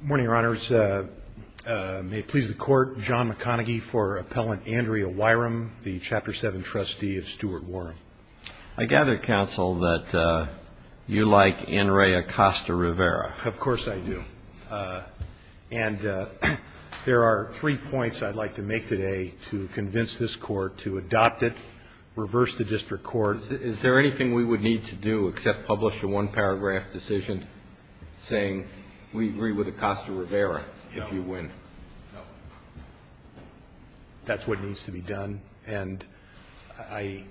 Good morning, Your Honors. May it please the Court, John McConaghy for Appellant Andrea Wirum, the Chapter 7 Trustee of Stuart Worum. I gather, Counsel, that you like Enri Acosta-Rivera. Of course I do. And there are three points I'd like to make today to convince this Court to adopt it, reverse the District Court. Is there anything we would need to do except publish a one-paragraph decision saying we agree with Acosta-Rivera if you win? No. That's what needs to be done. And I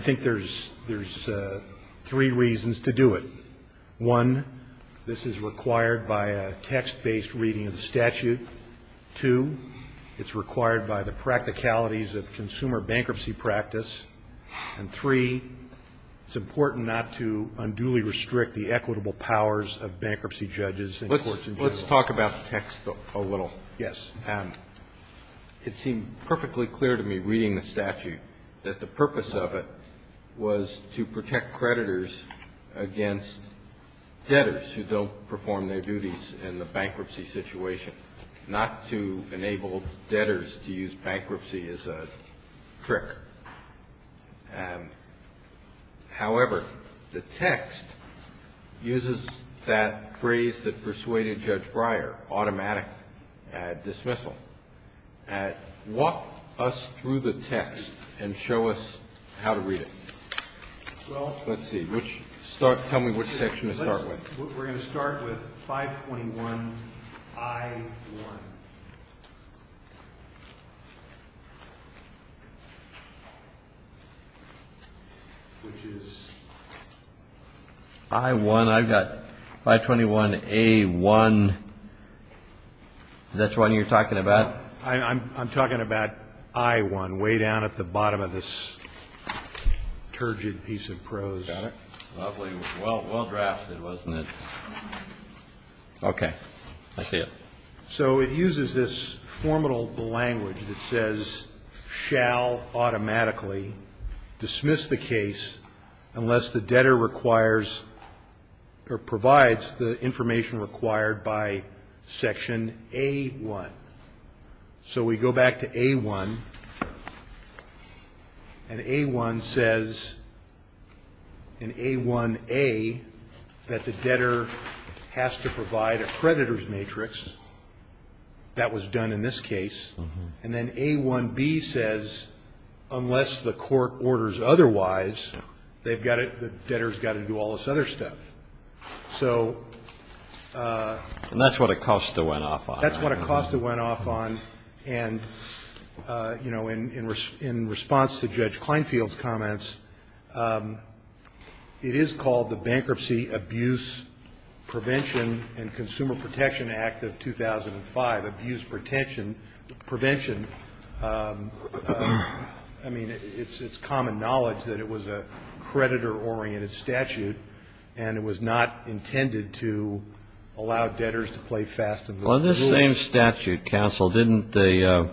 think there's three reasons to do it. One, this is required by a text-based reading of the statute. Two, it's required by the practicalities of consumer bankruptcy practice. And three, it's important not to unduly restrict the equitable powers of bankruptcy judges and courts in general. Let's talk about the text a little. Yes. It seemed perfectly clear to me reading the statute that the purpose of it was to protect creditors against debtors who don't perform their duties in the bankruptcy situation, not to enable debtors to use bankruptcy as a trick. However, the text uses that phrase that persuaded Judge Breyer, automatic dismissal. Walk us through the text and show us how to read it. Let's see. Tell me which section to start with. We're going to start with 521I1. Which is? I1. I've got 521A1. Is that the one you're talking about? I'm talking about I1, way down at the bottom of this turgid piece of prose. Got it. Lovely. Well, well drafted, wasn't it? Okay. I see it. So it uses this formidable language that says shall automatically dismiss the case unless the debtor requires or provides the information required by Section A1. So we go back to A1. And A1 says in A1A that the debtor has to provide a creditor's matrix. That was done in this case. And then A1B says unless the court orders otherwise, they've got to, the debtor's got to do all this other stuff. So. And that's what Acosta went off on. That's what Acosta went off on. And, you know, in response to Judge Kleinfeld's comments, it is called the Bankruptcy Abuse Prevention and Consumer Protection Act of 2005. Abuse protection, prevention, I mean, it's common knowledge that it was a creditor-oriented statute and it was not intended to allow debtors to play fast and loose. Well, in this same statute, counsel, didn't the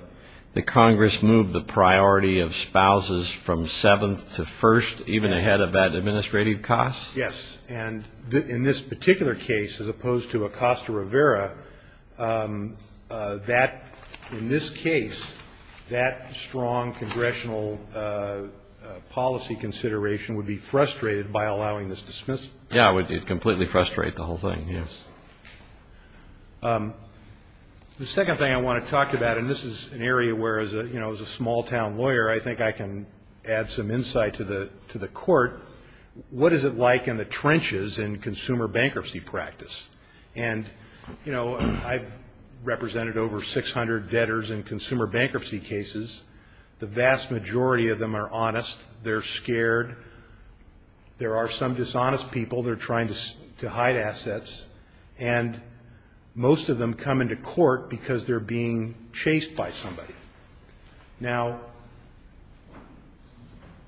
Congress move the priority of spouses from seventh to first even ahead of that administrative cost? Yes. And in this particular case, as opposed to Acosta Rivera, that, in this case, that strong congressional policy consideration would be frustrated by allowing this dismissal. Yeah, it would completely frustrate the whole thing, yes. The second thing I want to talk about, and this is an area where, you know, as a small-town lawyer, I think I can add some insight to the court. What is it like in the trenches in consumer bankruptcy practice? And, you know, I've represented over 600 debtors in consumer bankruptcy cases. The vast majority of them are honest. They're scared. There are some dishonest people that are trying to hide assets. And most of them come into court because they're being chased by somebody. Now,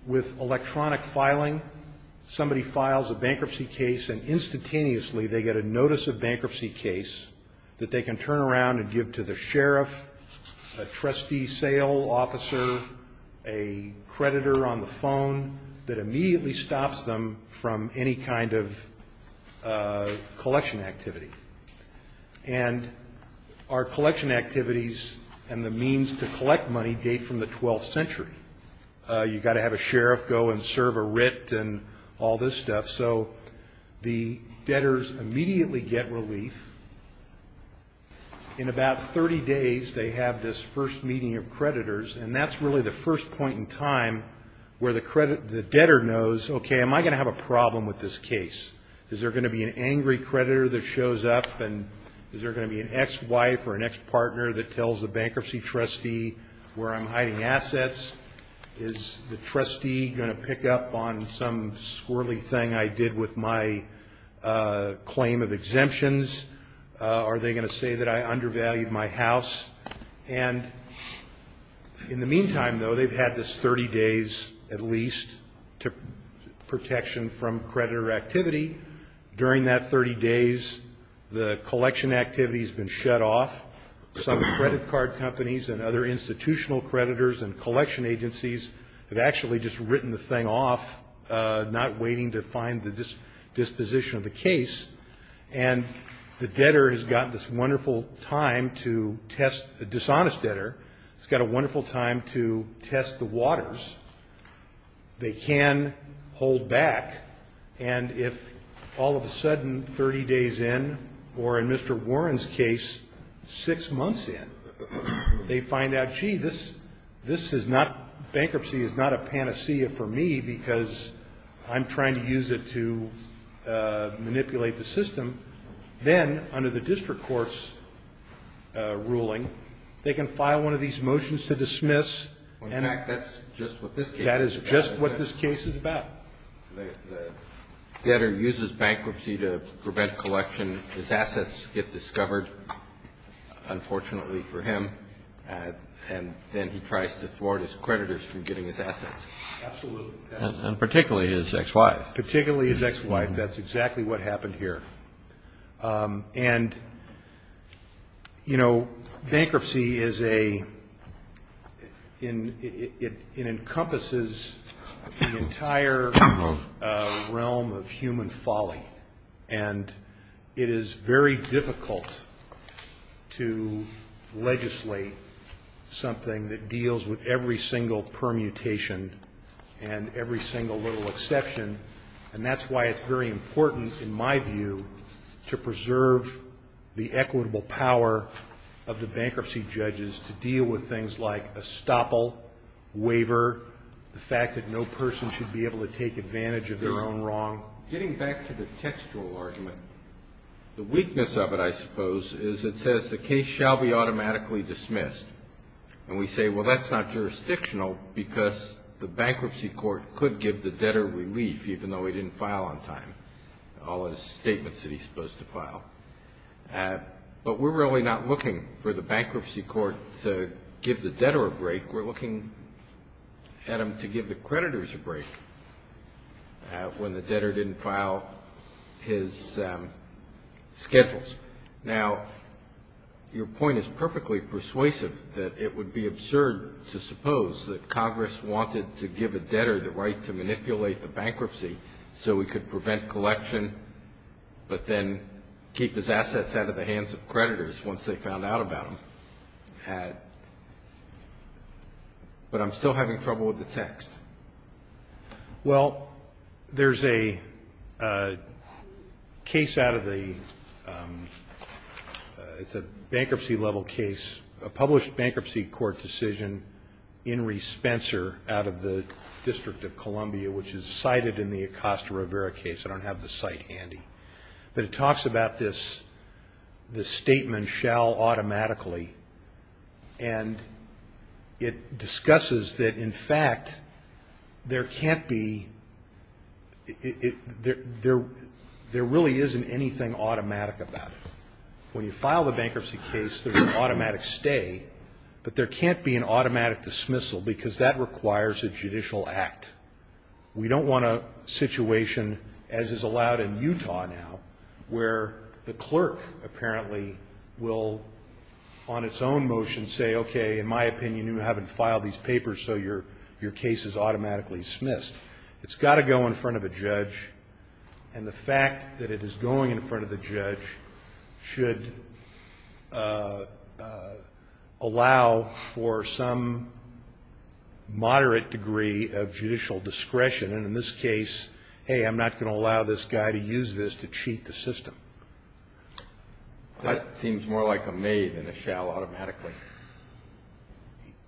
with electronic filing, somebody files a bankruptcy case and instantaneously they get a notice of bankruptcy case that they can turn around and give to the sheriff, a trustee sale officer, a creditor on the phone that immediately stops them from any kind of collection activity. And our collection activities and the means to collect money date from the 12th century. You've got to have a sheriff go and serve a writ and all this stuff. So the debtors immediately get relief. In about 30 days, they have this first meeting of creditors, and that's really the first point in time where the debtor knows, okay, am I going to have a problem with this case? Is there going to be an angry creditor that shows up, and is there going to be an ex-wife or an ex-partner that tells the bankruptcy trustee where I'm hiding assets? Is the trustee going to pick up on some squirrely thing I did with my claim of exemptions? Are they going to say that I undervalued my house? And in the meantime, though, they've had this 30 days at least to protection from creditor activity. During that 30 days, the collection activity has been shut off. Some credit card companies and other institutional creditors and collection agencies have actually just written the thing off, not waiting to find the disposition of the case. And the debtor has got this wonderful time to test the dishonest debtor. He's got a wonderful time to test the waters. They can hold back, and if all of a sudden 30 days in, or in Mr. Warren's case, six months in, they find out, bankruptcy is not a panacea for me because I'm trying to use it to manipulate the system, then under the district court's ruling, they can file one of these motions to dismiss. In fact, that's just what this case is about. That is just what this case is about. The debtor uses bankruptcy to prevent collection. His assets get discovered, unfortunately for him. And then he tries to thwart his creditors from getting his assets. Absolutely. And particularly his ex-wife. Particularly his ex-wife. That's exactly what happened here. And, you know, bankruptcy is a – it encompasses the entire realm of human folly. And it is very difficult to legislate something that deals with every single permutation and every single little exception. And that's why it's very important, in my view, to preserve the equitable power of the bankruptcy judges to deal with things like estoppel, waiver, the fact that no person should be able to take advantage of their own wrong. Now, getting back to the textual argument, the weakness of it, I suppose, is it says the case shall be automatically dismissed. And we say, well, that's not jurisdictional because the bankruptcy court could give the debtor relief, even though he didn't file on time, all his statements that he's supposed to file. But we're really not looking for the bankruptcy court to give the debtor a break. We're looking at him to give the creditors a break when the debtor didn't file his schedules. Now, your point is perfectly persuasive, that it would be absurd to suppose that Congress wanted to give a debtor the right to manipulate the bankruptcy so he could prevent collection but then keep his assets out of the hands of creditors once they found out about him. But I'm still having trouble with the text. Well, there's a case out of the ‑‑ it's a bankruptcy-level case, a published bankruptcy court decision, Inree Spencer, out of the District of Columbia, which is cited in the Acosta Rivera case. I don't have the site handy. But it talks about this statement shall automatically, and it discusses that, in fact, there can't be ‑‑ there really isn't anything automatic about it. When you file the bankruptcy case, there's an automatic stay. But there can't be an automatic dismissal because that requires a judicial act. We don't want a situation, as is allowed in Utah now, where the clerk apparently will, on its own motion, say, okay, in my opinion, you haven't filed these papers so your case is automatically dismissed. It's got to go in front of a judge. And the fact that it is going in front of the judge should allow for some moderate degree of judicial discretion. And in this case, hey, I'm not going to allow this guy to use this to cheat the system. That seems more like a may than a shall automatically.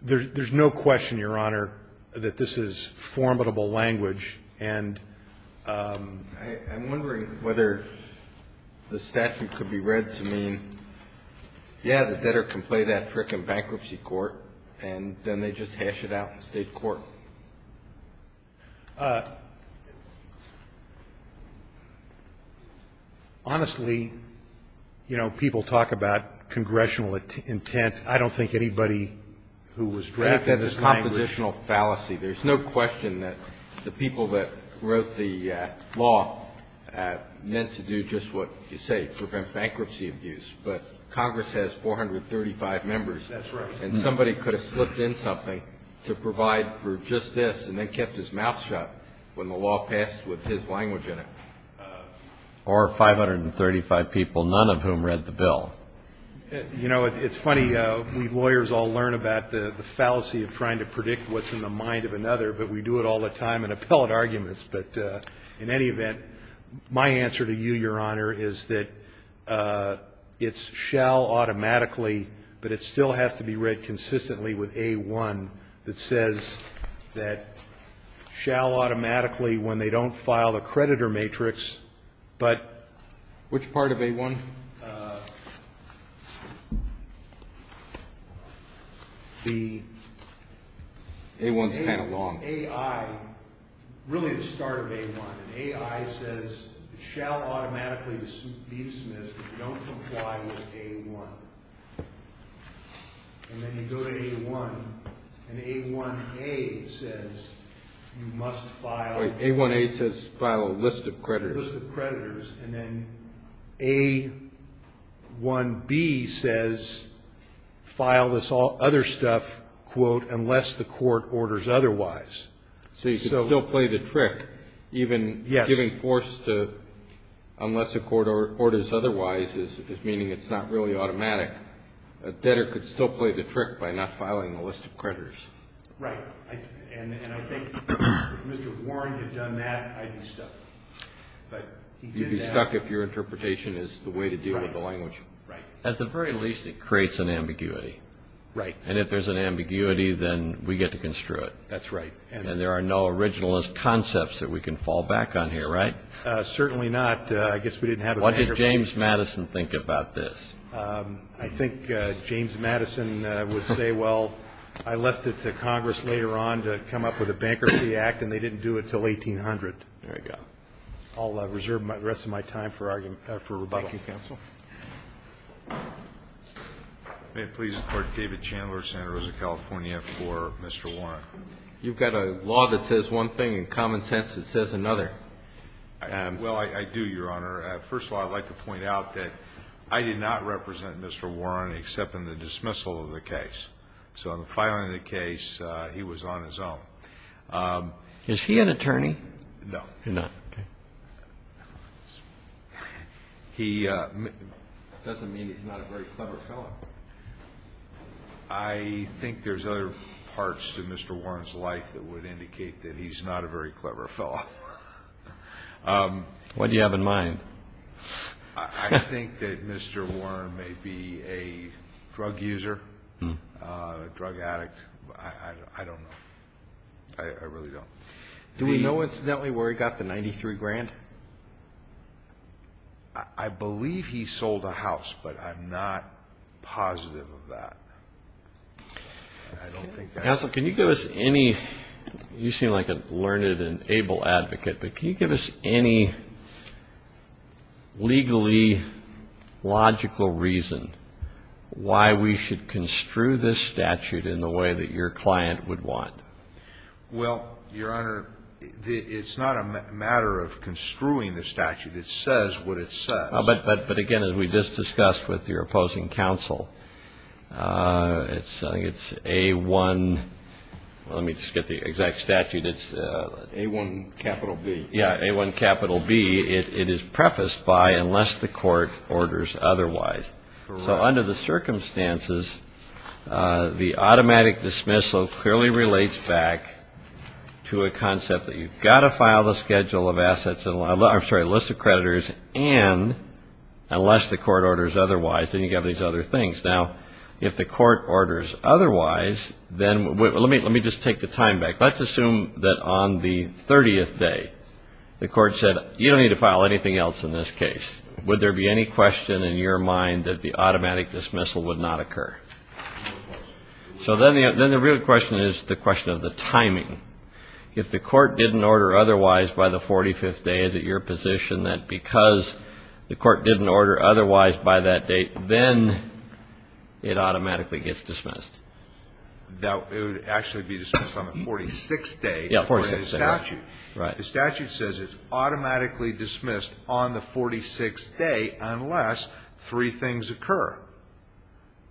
There's no question, Your Honor, that this is formidable language. I'm wondering whether the statute could be read to mean, yeah, the debtor can play that trick in bankruptcy court, and then they just hash it out in state court. Honestly, you know, people talk about congressional intent. I don't think anybody who was drafted this language. I think that's a compositional fallacy. There's no question that the people that wrote the law meant to do just what you say, prevent bankruptcy abuse. But Congress has 435 members. That's right. And somebody could have slipped in something to provide for just this and then kept his mouth shut when the law passed with his language in it. Well, you know, it's funny. We lawyers all learn about the fallacy of trying to predict what's in the mind of another, but we do it all the time in appellate arguments. But in any event, my answer to you, Your Honor, is that it's shall automatically, but it still has to be read consistently with A-1 that says that shall automatically when they don't file the creditor matrix, but which part of A-1? The A-1 is kind of long. A-I, really the start of A-1. A-I says shall automatically be dismissed if you don't comply with A-1. And then you go to A-1, and A-1-A says you must file. Wait, A-1-A says file a list of creditors. A-1-A says file a list of creditors, and then A-1-B says file this other stuff, quote, unless the court orders otherwise. So you can still play the trick, even giving force to unless the court orders otherwise is meaning it's not really automatic. A debtor could still play the trick by not filing a list of creditors. Right. And I think if Mr. Warren had done that, I'd be stuck. You'd be stuck if your interpretation is the way to deal with the language. Right. At the very least, it creates an ambiguity. Right. And if there's an ambiguity, then we get to construe it. That's right. And there are no originalist concepts that we can fall back on here, right? Certainly not. I guess we didn't have a bankruptcy. What did James Madison think about this? I think James Madison would say, well, I left it to Congress later on to come up with a bankruptcy act, and they didn't do it until 1800. There you go. I'll reserve the rest of my time for rebuttal. Thank you, counsel. May it please the Court. David Chandler, Santa Rosa, California, for Mr. Warren. You've got a law that says one thing and common sense that says another. Well, I do, Your Honor. First of all, I'd like to point out that I did not represent Mr. Warren except in the dismissal of the case. So in filing the case, he was on his own. Is he an attorney? No. You're not, okay. He doesn't mean he's not a very clever fellow. I think there's other parts to Mr. Warren's life that would indicate that he's not a very clever fellow. What do you have in mind? I think that Mr. Warren may be a drug user, a drug addict. I don't know. I really don't. Do we know, incidentally, where he got the 93 grand? I believe he sold a house, but I'm not positive of that. Counsel, can you give us any, you seem like a learned and able advocate, but can you give us any legally logical reason why we should construe this statute in the way that your client would want? Well, Your Honor, it's not a matter of construing the statute. It says what it says. But, again, as we just discussed with your opposing counsel, it's A-1. Let me just get the exact statute. It's A-1 capital B. Yeah, A-1 capital B. It is prefaced by unless the court orders otherwise. So under the circumstances, the automatic dismissal clearly relates back to a concept that you've got to file the schedule of assets, I'm sorry, list of creditors, and unless the court orders otherwise, then you have these other things. Now, if the court orders otherwise, then let me just take the time back. Let's assume that on the 30th day, the court said you don't need to file anything else in this case. Would there be any question in your mind that the automatic dismissal would not occur? If the court didn't order otherwise by the 45th day, is it your position that because the court didn't order otherwise by that date, then it automatically gets dismissed? It would actually be dismissed on the 46th day according to the statute. The statute says it's automatically dismissed on the 46th day unless three things occur.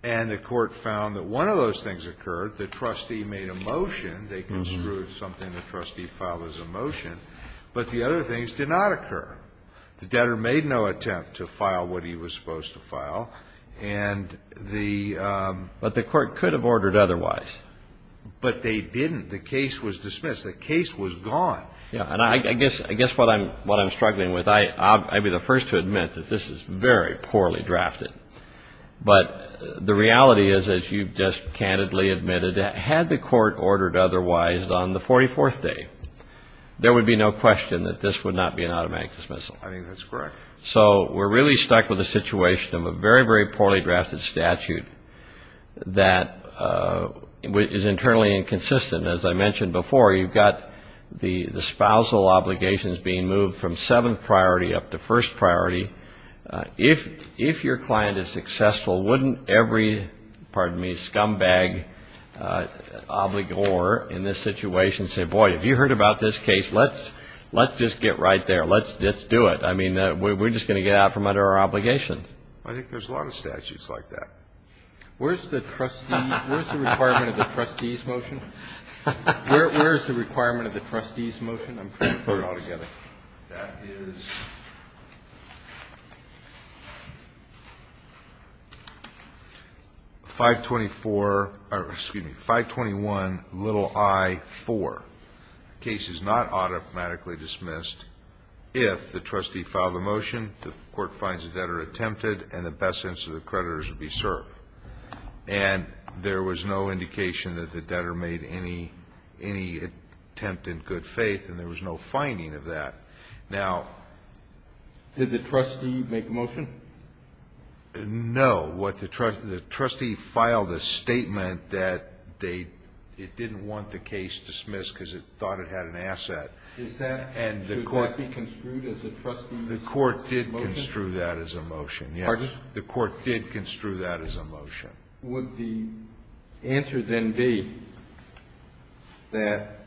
And the court found that one of those things occurred. The trustee made a motion. They construed something the trustee filed as a motion. But the other things did not occur. The debtor made no attempt to file what he was supposed to file, and the ---- But the court could have ordered otherwise. But they didn't. The case was dismissed. The case was gone. Yeah, and I guess what I'm struggling with, I'd be the first to admit that this is very poorly drafted. But the reality is, as you've just candidly admitted, had the court ordered otherwise on the 44th day, there would be no question that this would not be an automatic dismissal. I think that's correct. So we're really stuck with a situation of a very, very poorly drafted statute that is internally inconsistent. As I mentioned before, you've got the spousal obligations being moved from seventh priority up to first priority. If your client is successful, wouldn't every scumbag obligor in this situation say, boy, have you heard about this case? Let's just get right there. Let's do it. I mean, we're just going to get out from under our obligation. I think there's a lot of statutes like that. Where's the requirement of the trustee's motion? Where's the requirement of the trustee's motion? I'm trying to put it all together. That is 521-i-4. The case is not automatically dismissed if the trustee filed a motion, the court finds the debtor attempted, and the best sense of the creditors would be served. And there was no indication that the debtor made any attempt in good faith, and there was no finding of that. Now ---- Did the trustee make a motion? No. What the trustee ---- the trustee filed a statement that they ---- it didn't want the case dismissed because it thought it had an asset. Is that ---- And the court ---- Should that be construed as a trustee's motion? The court did construe that as a motion, yes. Pardon? The court did construe that as a motion. Would the answer then be that,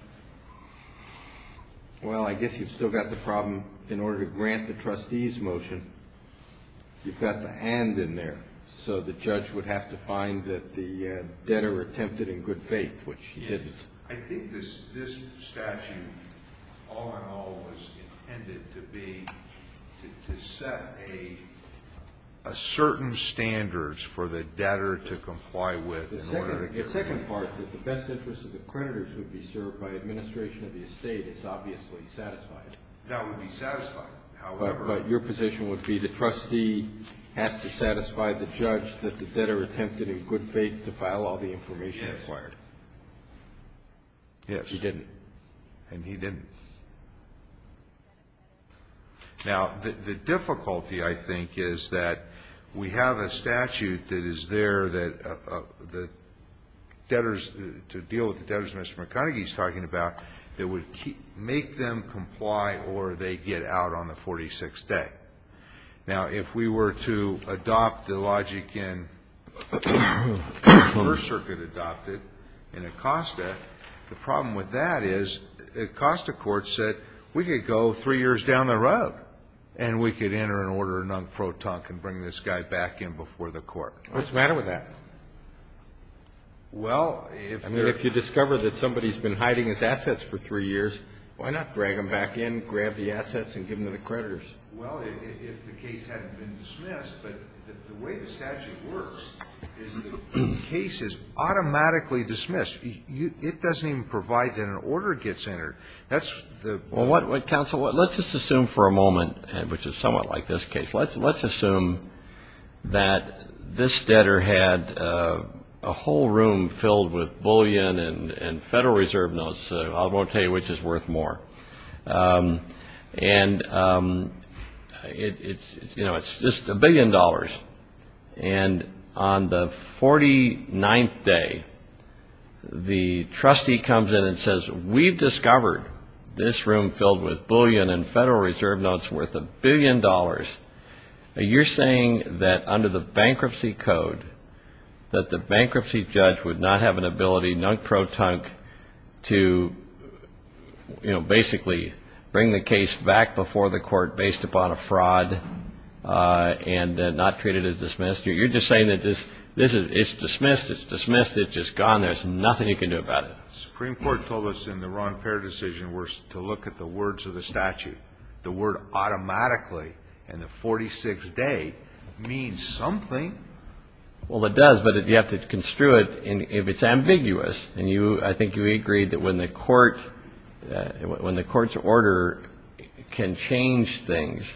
well, I guess you've still got the problem. In order to grant the trustee's motion, you've got the and in there. So the judge would have to find that the debtor attempted in good faith, which he didn't. I think this statute all in all was intended to be ---- to set a certain standard for the debtor to comply with in order to get ---- The second part, that the best interest of the creditors would be served by administration of the estate is obviously satisfied. That would be satisfied. However ---- But your position would be the trustee has to satisfy the judge that the debtor attempted in good faith to file all the information required. Yes. He didn't. And he didn't. Now, the difficulty, I think, is that we have a statute that is there that the debtors ---- to deal with the debtors Mr. McConnegie is talking about that would make them comply or they get out on the 46th day. Now, if we were to adopt the logic in the First Circuit adopted in Acosta, the problem with that is Acosta court said we could go three years down the road and we could enter an order of non-pro tonque and bring this guy back in before the court. What's the matter with that? Well, if there ---- I mean, if you discover that somebody's been hiding his assets for three years, why not drag him back in, grab the assets and give them to the creditors? Well, if the case hadn't been dismissed. But the way the statute works is that the case is automatically dismissed. It doesn't even provide that an order gets entered. That's the ---- Well, counsel, let's just assume for a moment, which is somewhat like this case, let's assume that this debtor had a whole room filled with bullion and Federal Reserve notes. I won't tell you which is worth more. And it's just a billion dollars. And on the 49th day, the trustee comes in and says, we've discovered this room filled with bullion and Federal Reserve notes worth a billion dollars. You're saying that under the bankruptcy code, that the bankruptcy judge would not have an ability, nunk-pro-tunk, to basically bring the case back before the court based upon a fraud and not treat it as dismissed? You're just saying that it's dismissed. It's dismissed. It's just gone. There's nothing you can do about it. The Supreme Court told us in the Ron Perry decision to look at the words of the statute. The word automatically in the 46th day means something. Well, it does, but you have to construe it if it's ambiguous. And I think you agreed that when the court's order can change things,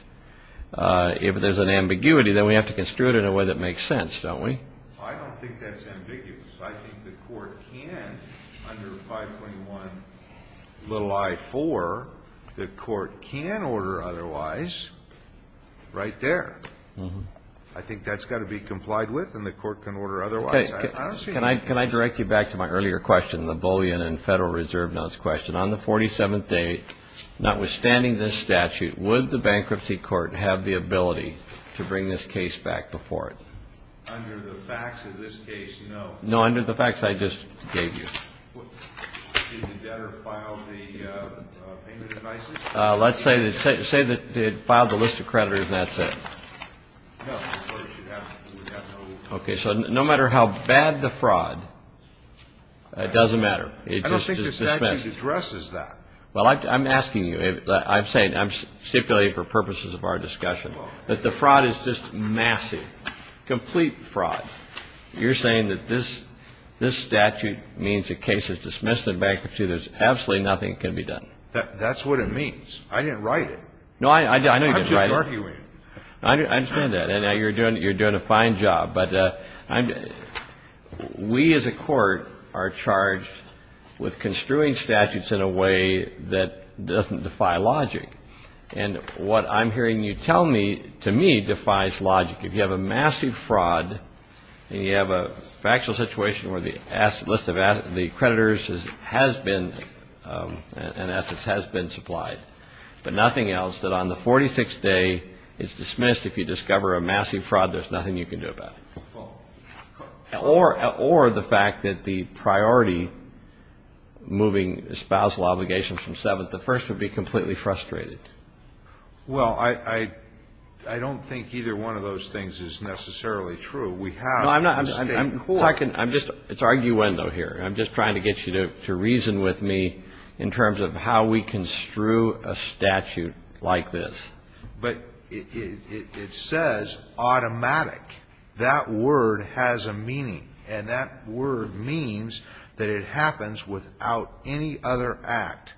if there's an ambiguity, then we have to construe it in a way that makes sense, don't we? I don't think that's ambiguous. I think the court can, under 521.4, the court can order otherwise right there. I think that's got to be complied with and the court can order otherwise. Can I direct you back to my earlier question, the bullion and Federal Reserve notes question? On the 47th day, notwithstanding this statute, would the bankruptcy court have the ability to bring this case back before it? Under the facts of this case, no. No, under the facts I just gave you. Did the debtor file the payment in ISIS? Let's say that it filed the list of creditors and that's it. No. Okay. So no matter how bad the fraud, it doesn't matter. I don't think the statute addresses that. Well, I'm asking you. I'm saying, I'm stipulating for purposes of our discussion, that the fraud is just massive, complete fraud. You're saying that this statute means the case is dismissed in bankruptcy, there's absolutely nothing that can be done. That's what it means. I didn't write it. No, I know you didn't write it. I'm just arguing it. I understand that. And you're doing a fine job. But we as a court are charged with construing statutes in a way that doesn't defy logic. And what I'm hearing you tell me, to me, defies logic. If you have a massive fraud and you have a factual situation where the list of creditors has been and assets has been supplied, but nothing else, that on the 46th day it's dismissed. If you discover a massive fraud, there's nothing you can do about it. Or the fact that the priority moving spousal obligations from 7th to 1st would be completely frustrated. Well, I don't think either one of those things is necessarily true. We have a state court. It's arguendo here. I'm just trying to get you to reason with me in terms of how we construe a statute like this. But it says automatic. That word has a meaning. And that word means that it happens without any other act.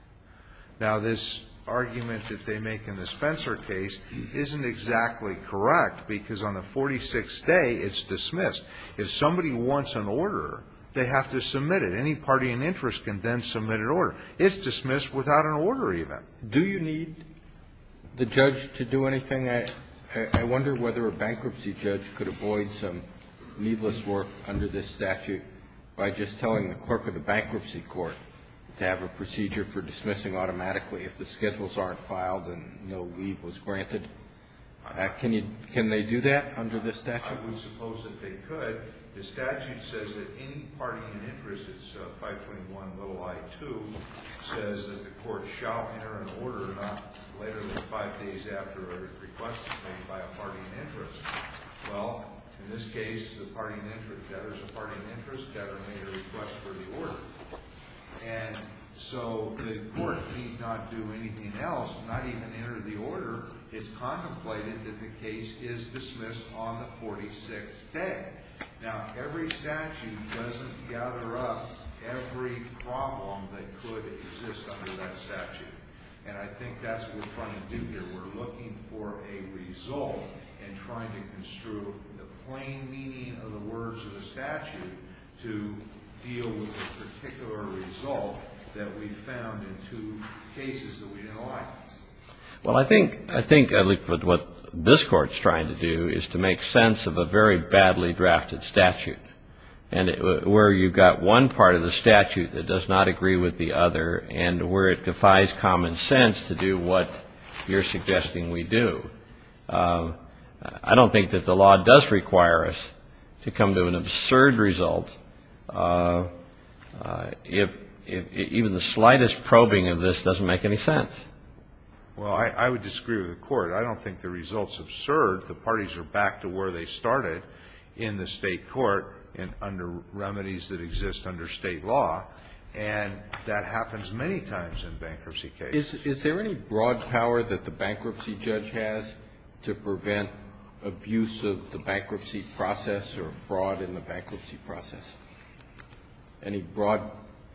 Now, this argument that they make in the Spencer case isn't exactly correct because on the 46th day it's dismissed. If somebody wants an order, they have to submit it. Any party in interest can then submit an order. It's dismissed without an order even. Do you need the judge to do anything? I wonder whether a bankruptcy judge could avoid some needless work under this statute by just telling the clerk of the bankruptcy court to have a procedure for dismissing automatically. If the schedules aren't filed, then no leave was granted. Can they do that under this statute? I would suppose that they could. But the statute says that any party in interest, it's 521.0I2, says that the court shall enter an order not later than five days after a request is made by a party in interest. Well, in this case, there's a party in interest that made a request for the order. And so the court need not do anything else, not even enter the order. It's contemplated that the case is dismissed on the 46th day. Now, every statute doesn't gather up every problem that could exist under that statute. And I think that's what we're trying to do here. We're looking for a result and trying to construe the plain meaning of the words of the statute to deal with a particular result that we found in two cases that we didn't like. Well, I think at least what this Court's trying to do is to make sense of a very badly drafted statute where you've got one part of the statute that does not agree with the other and where it defies common sense to do what you're suggesting we do. I don't think that the law does require us to come to an absurd result if even the slightest probing of this doesn't make any sense. Well, I would disagree with the Court. I don't think the results have served. The parties are back to where they started in the State court and under remedies that exist under State law. And that happens many times in bankruptcy cases. Is there any broad power that the bankruptcy judge has to prevent abuse of the bankruptcy process or broad in the bankruptcy process? Any broad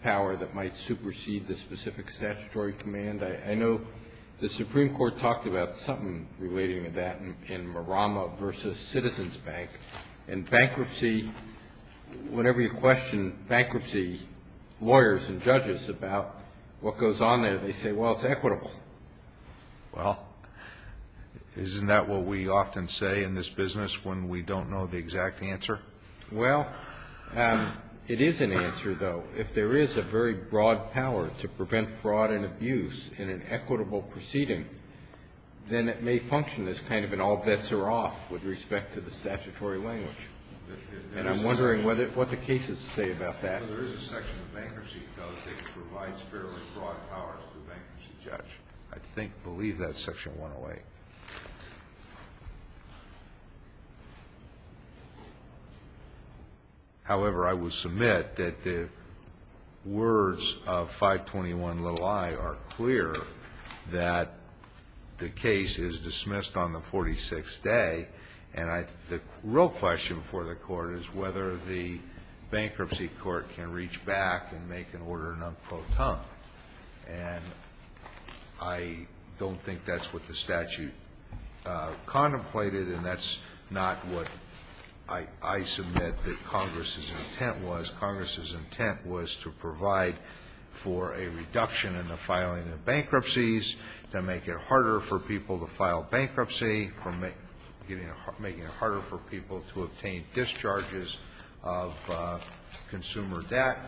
power that might supersede the specific statutory command? I know the Supreme Court talked about something relating to that in Marama v. Citizens Bank. In bankruptcy, whenever you question bankruptcy lawyers and judges about what goes on there, they say, well, it's equitable. Well, isn't that what we often say in this business when we don't know the exact answer? Well, it is an answer, though. If there is a very broad power to prevent fraud and abuse in an equitable proceeding, then it may function as kind of an all bets are off with respect to the statutory language. And I'm wondering what the cases say about that. I know there is a section of bankruptcy code that provides fairly broad powers to the bankruptcy judge. I believe that's Section 108. However, I would submit that the words of 521 little i are clear that the case is dismissed on the 46th day. And the real question for the court is whether the bankruptcy court can reach back and make an order non pro ton. And I don't think that's what the statute contemplated, and that's not what I submit that Congress's intent was. Congress's intent was to provide for a reduction in the filing of bankruptcies, to make it harder for people to file bankruptcy, or making it harder for people to obtain discharges of consumer debt.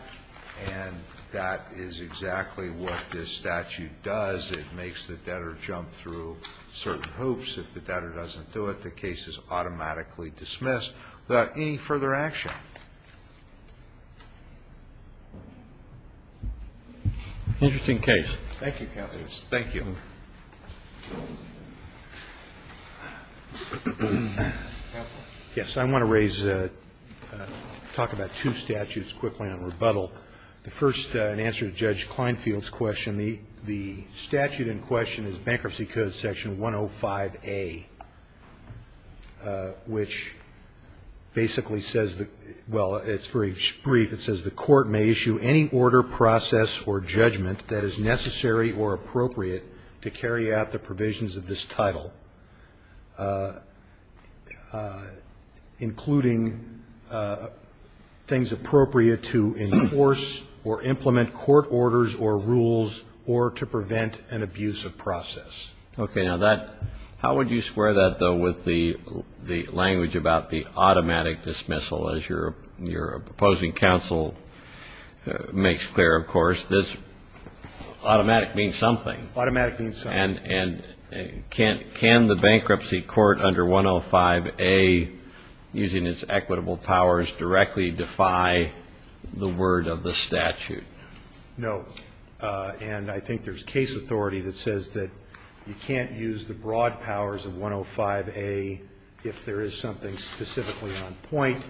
And that is exactly what this statute does. It makes the debtor jump through certain hoops. If the debtor doesn't do it, the case is automatically dismissed. Without any further action. Interesting case. Thank you, counsel. Yes, I want to raise, talk about two statutes quickly on rebuttal. The first, in answer to Judge Klinefield's question, the statute in question is Bankruptcy Code Section 105A, which basically says, well, it's very brief, it says, the court may issue any order, process or judgment that is necessary or appropriate to carry out the provisions of this title, including things appropriate to enforce or implement court orders or rules or to prevent an abuse of process. Okay. Now, that, how would you square that, though, with the language about the automatic dismissal? As your opposing counsel makes clear, of course, this automatic means something. Automatic means something. And can the bankruptcy court under 105A, using its equitable powers, directly defy the word of the statute? No. And I think there's case authority that says that you can't use the broad powers of 105A if there is something specifically on point.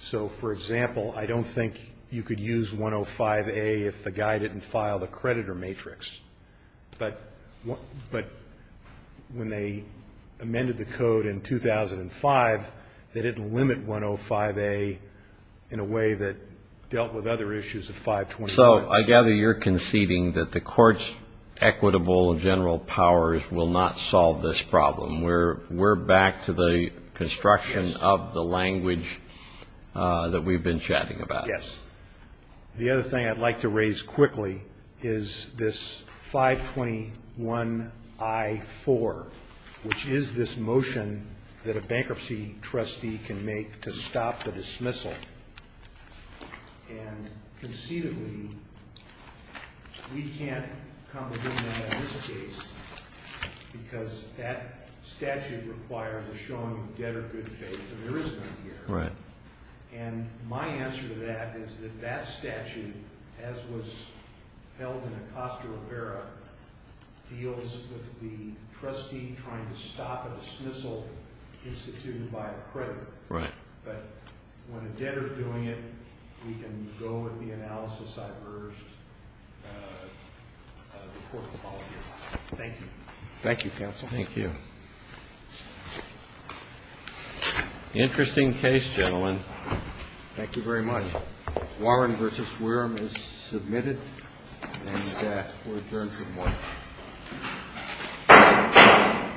So, for example, I don't think you could use 105A if the guy didn't file the creditor matrix. But when they amended the code in 2005, they didn't limit 105A in a way that dealt with other issues of 529. So I gather you're conceding that the court's equitable general powers will not solve this problem. We're back to the construction of the language that we've been chatting about. Yes. The other thing I'd like to raise quickly is this 521I4, which is this motion that a bankruptcy trustee can make to stop the dismissal. And conceivably, we can't comprehend that in this case, because that statute requires a showing of debtor good faith. And there is none here. Right. And my answer to that is that that statute, as was held in Acosta Rivera, deals with the trustee trying to stop a dismissal instituted by a creditor. Right. But when a debtor's doing it, we can go with the analysis I've urged the court to follow here. Thank you. Thank you, counsel. Thank you. Interesting case, gentlemen. Thank you very much. Warren v. Warren is submitted, and we'll adjourn for the morning.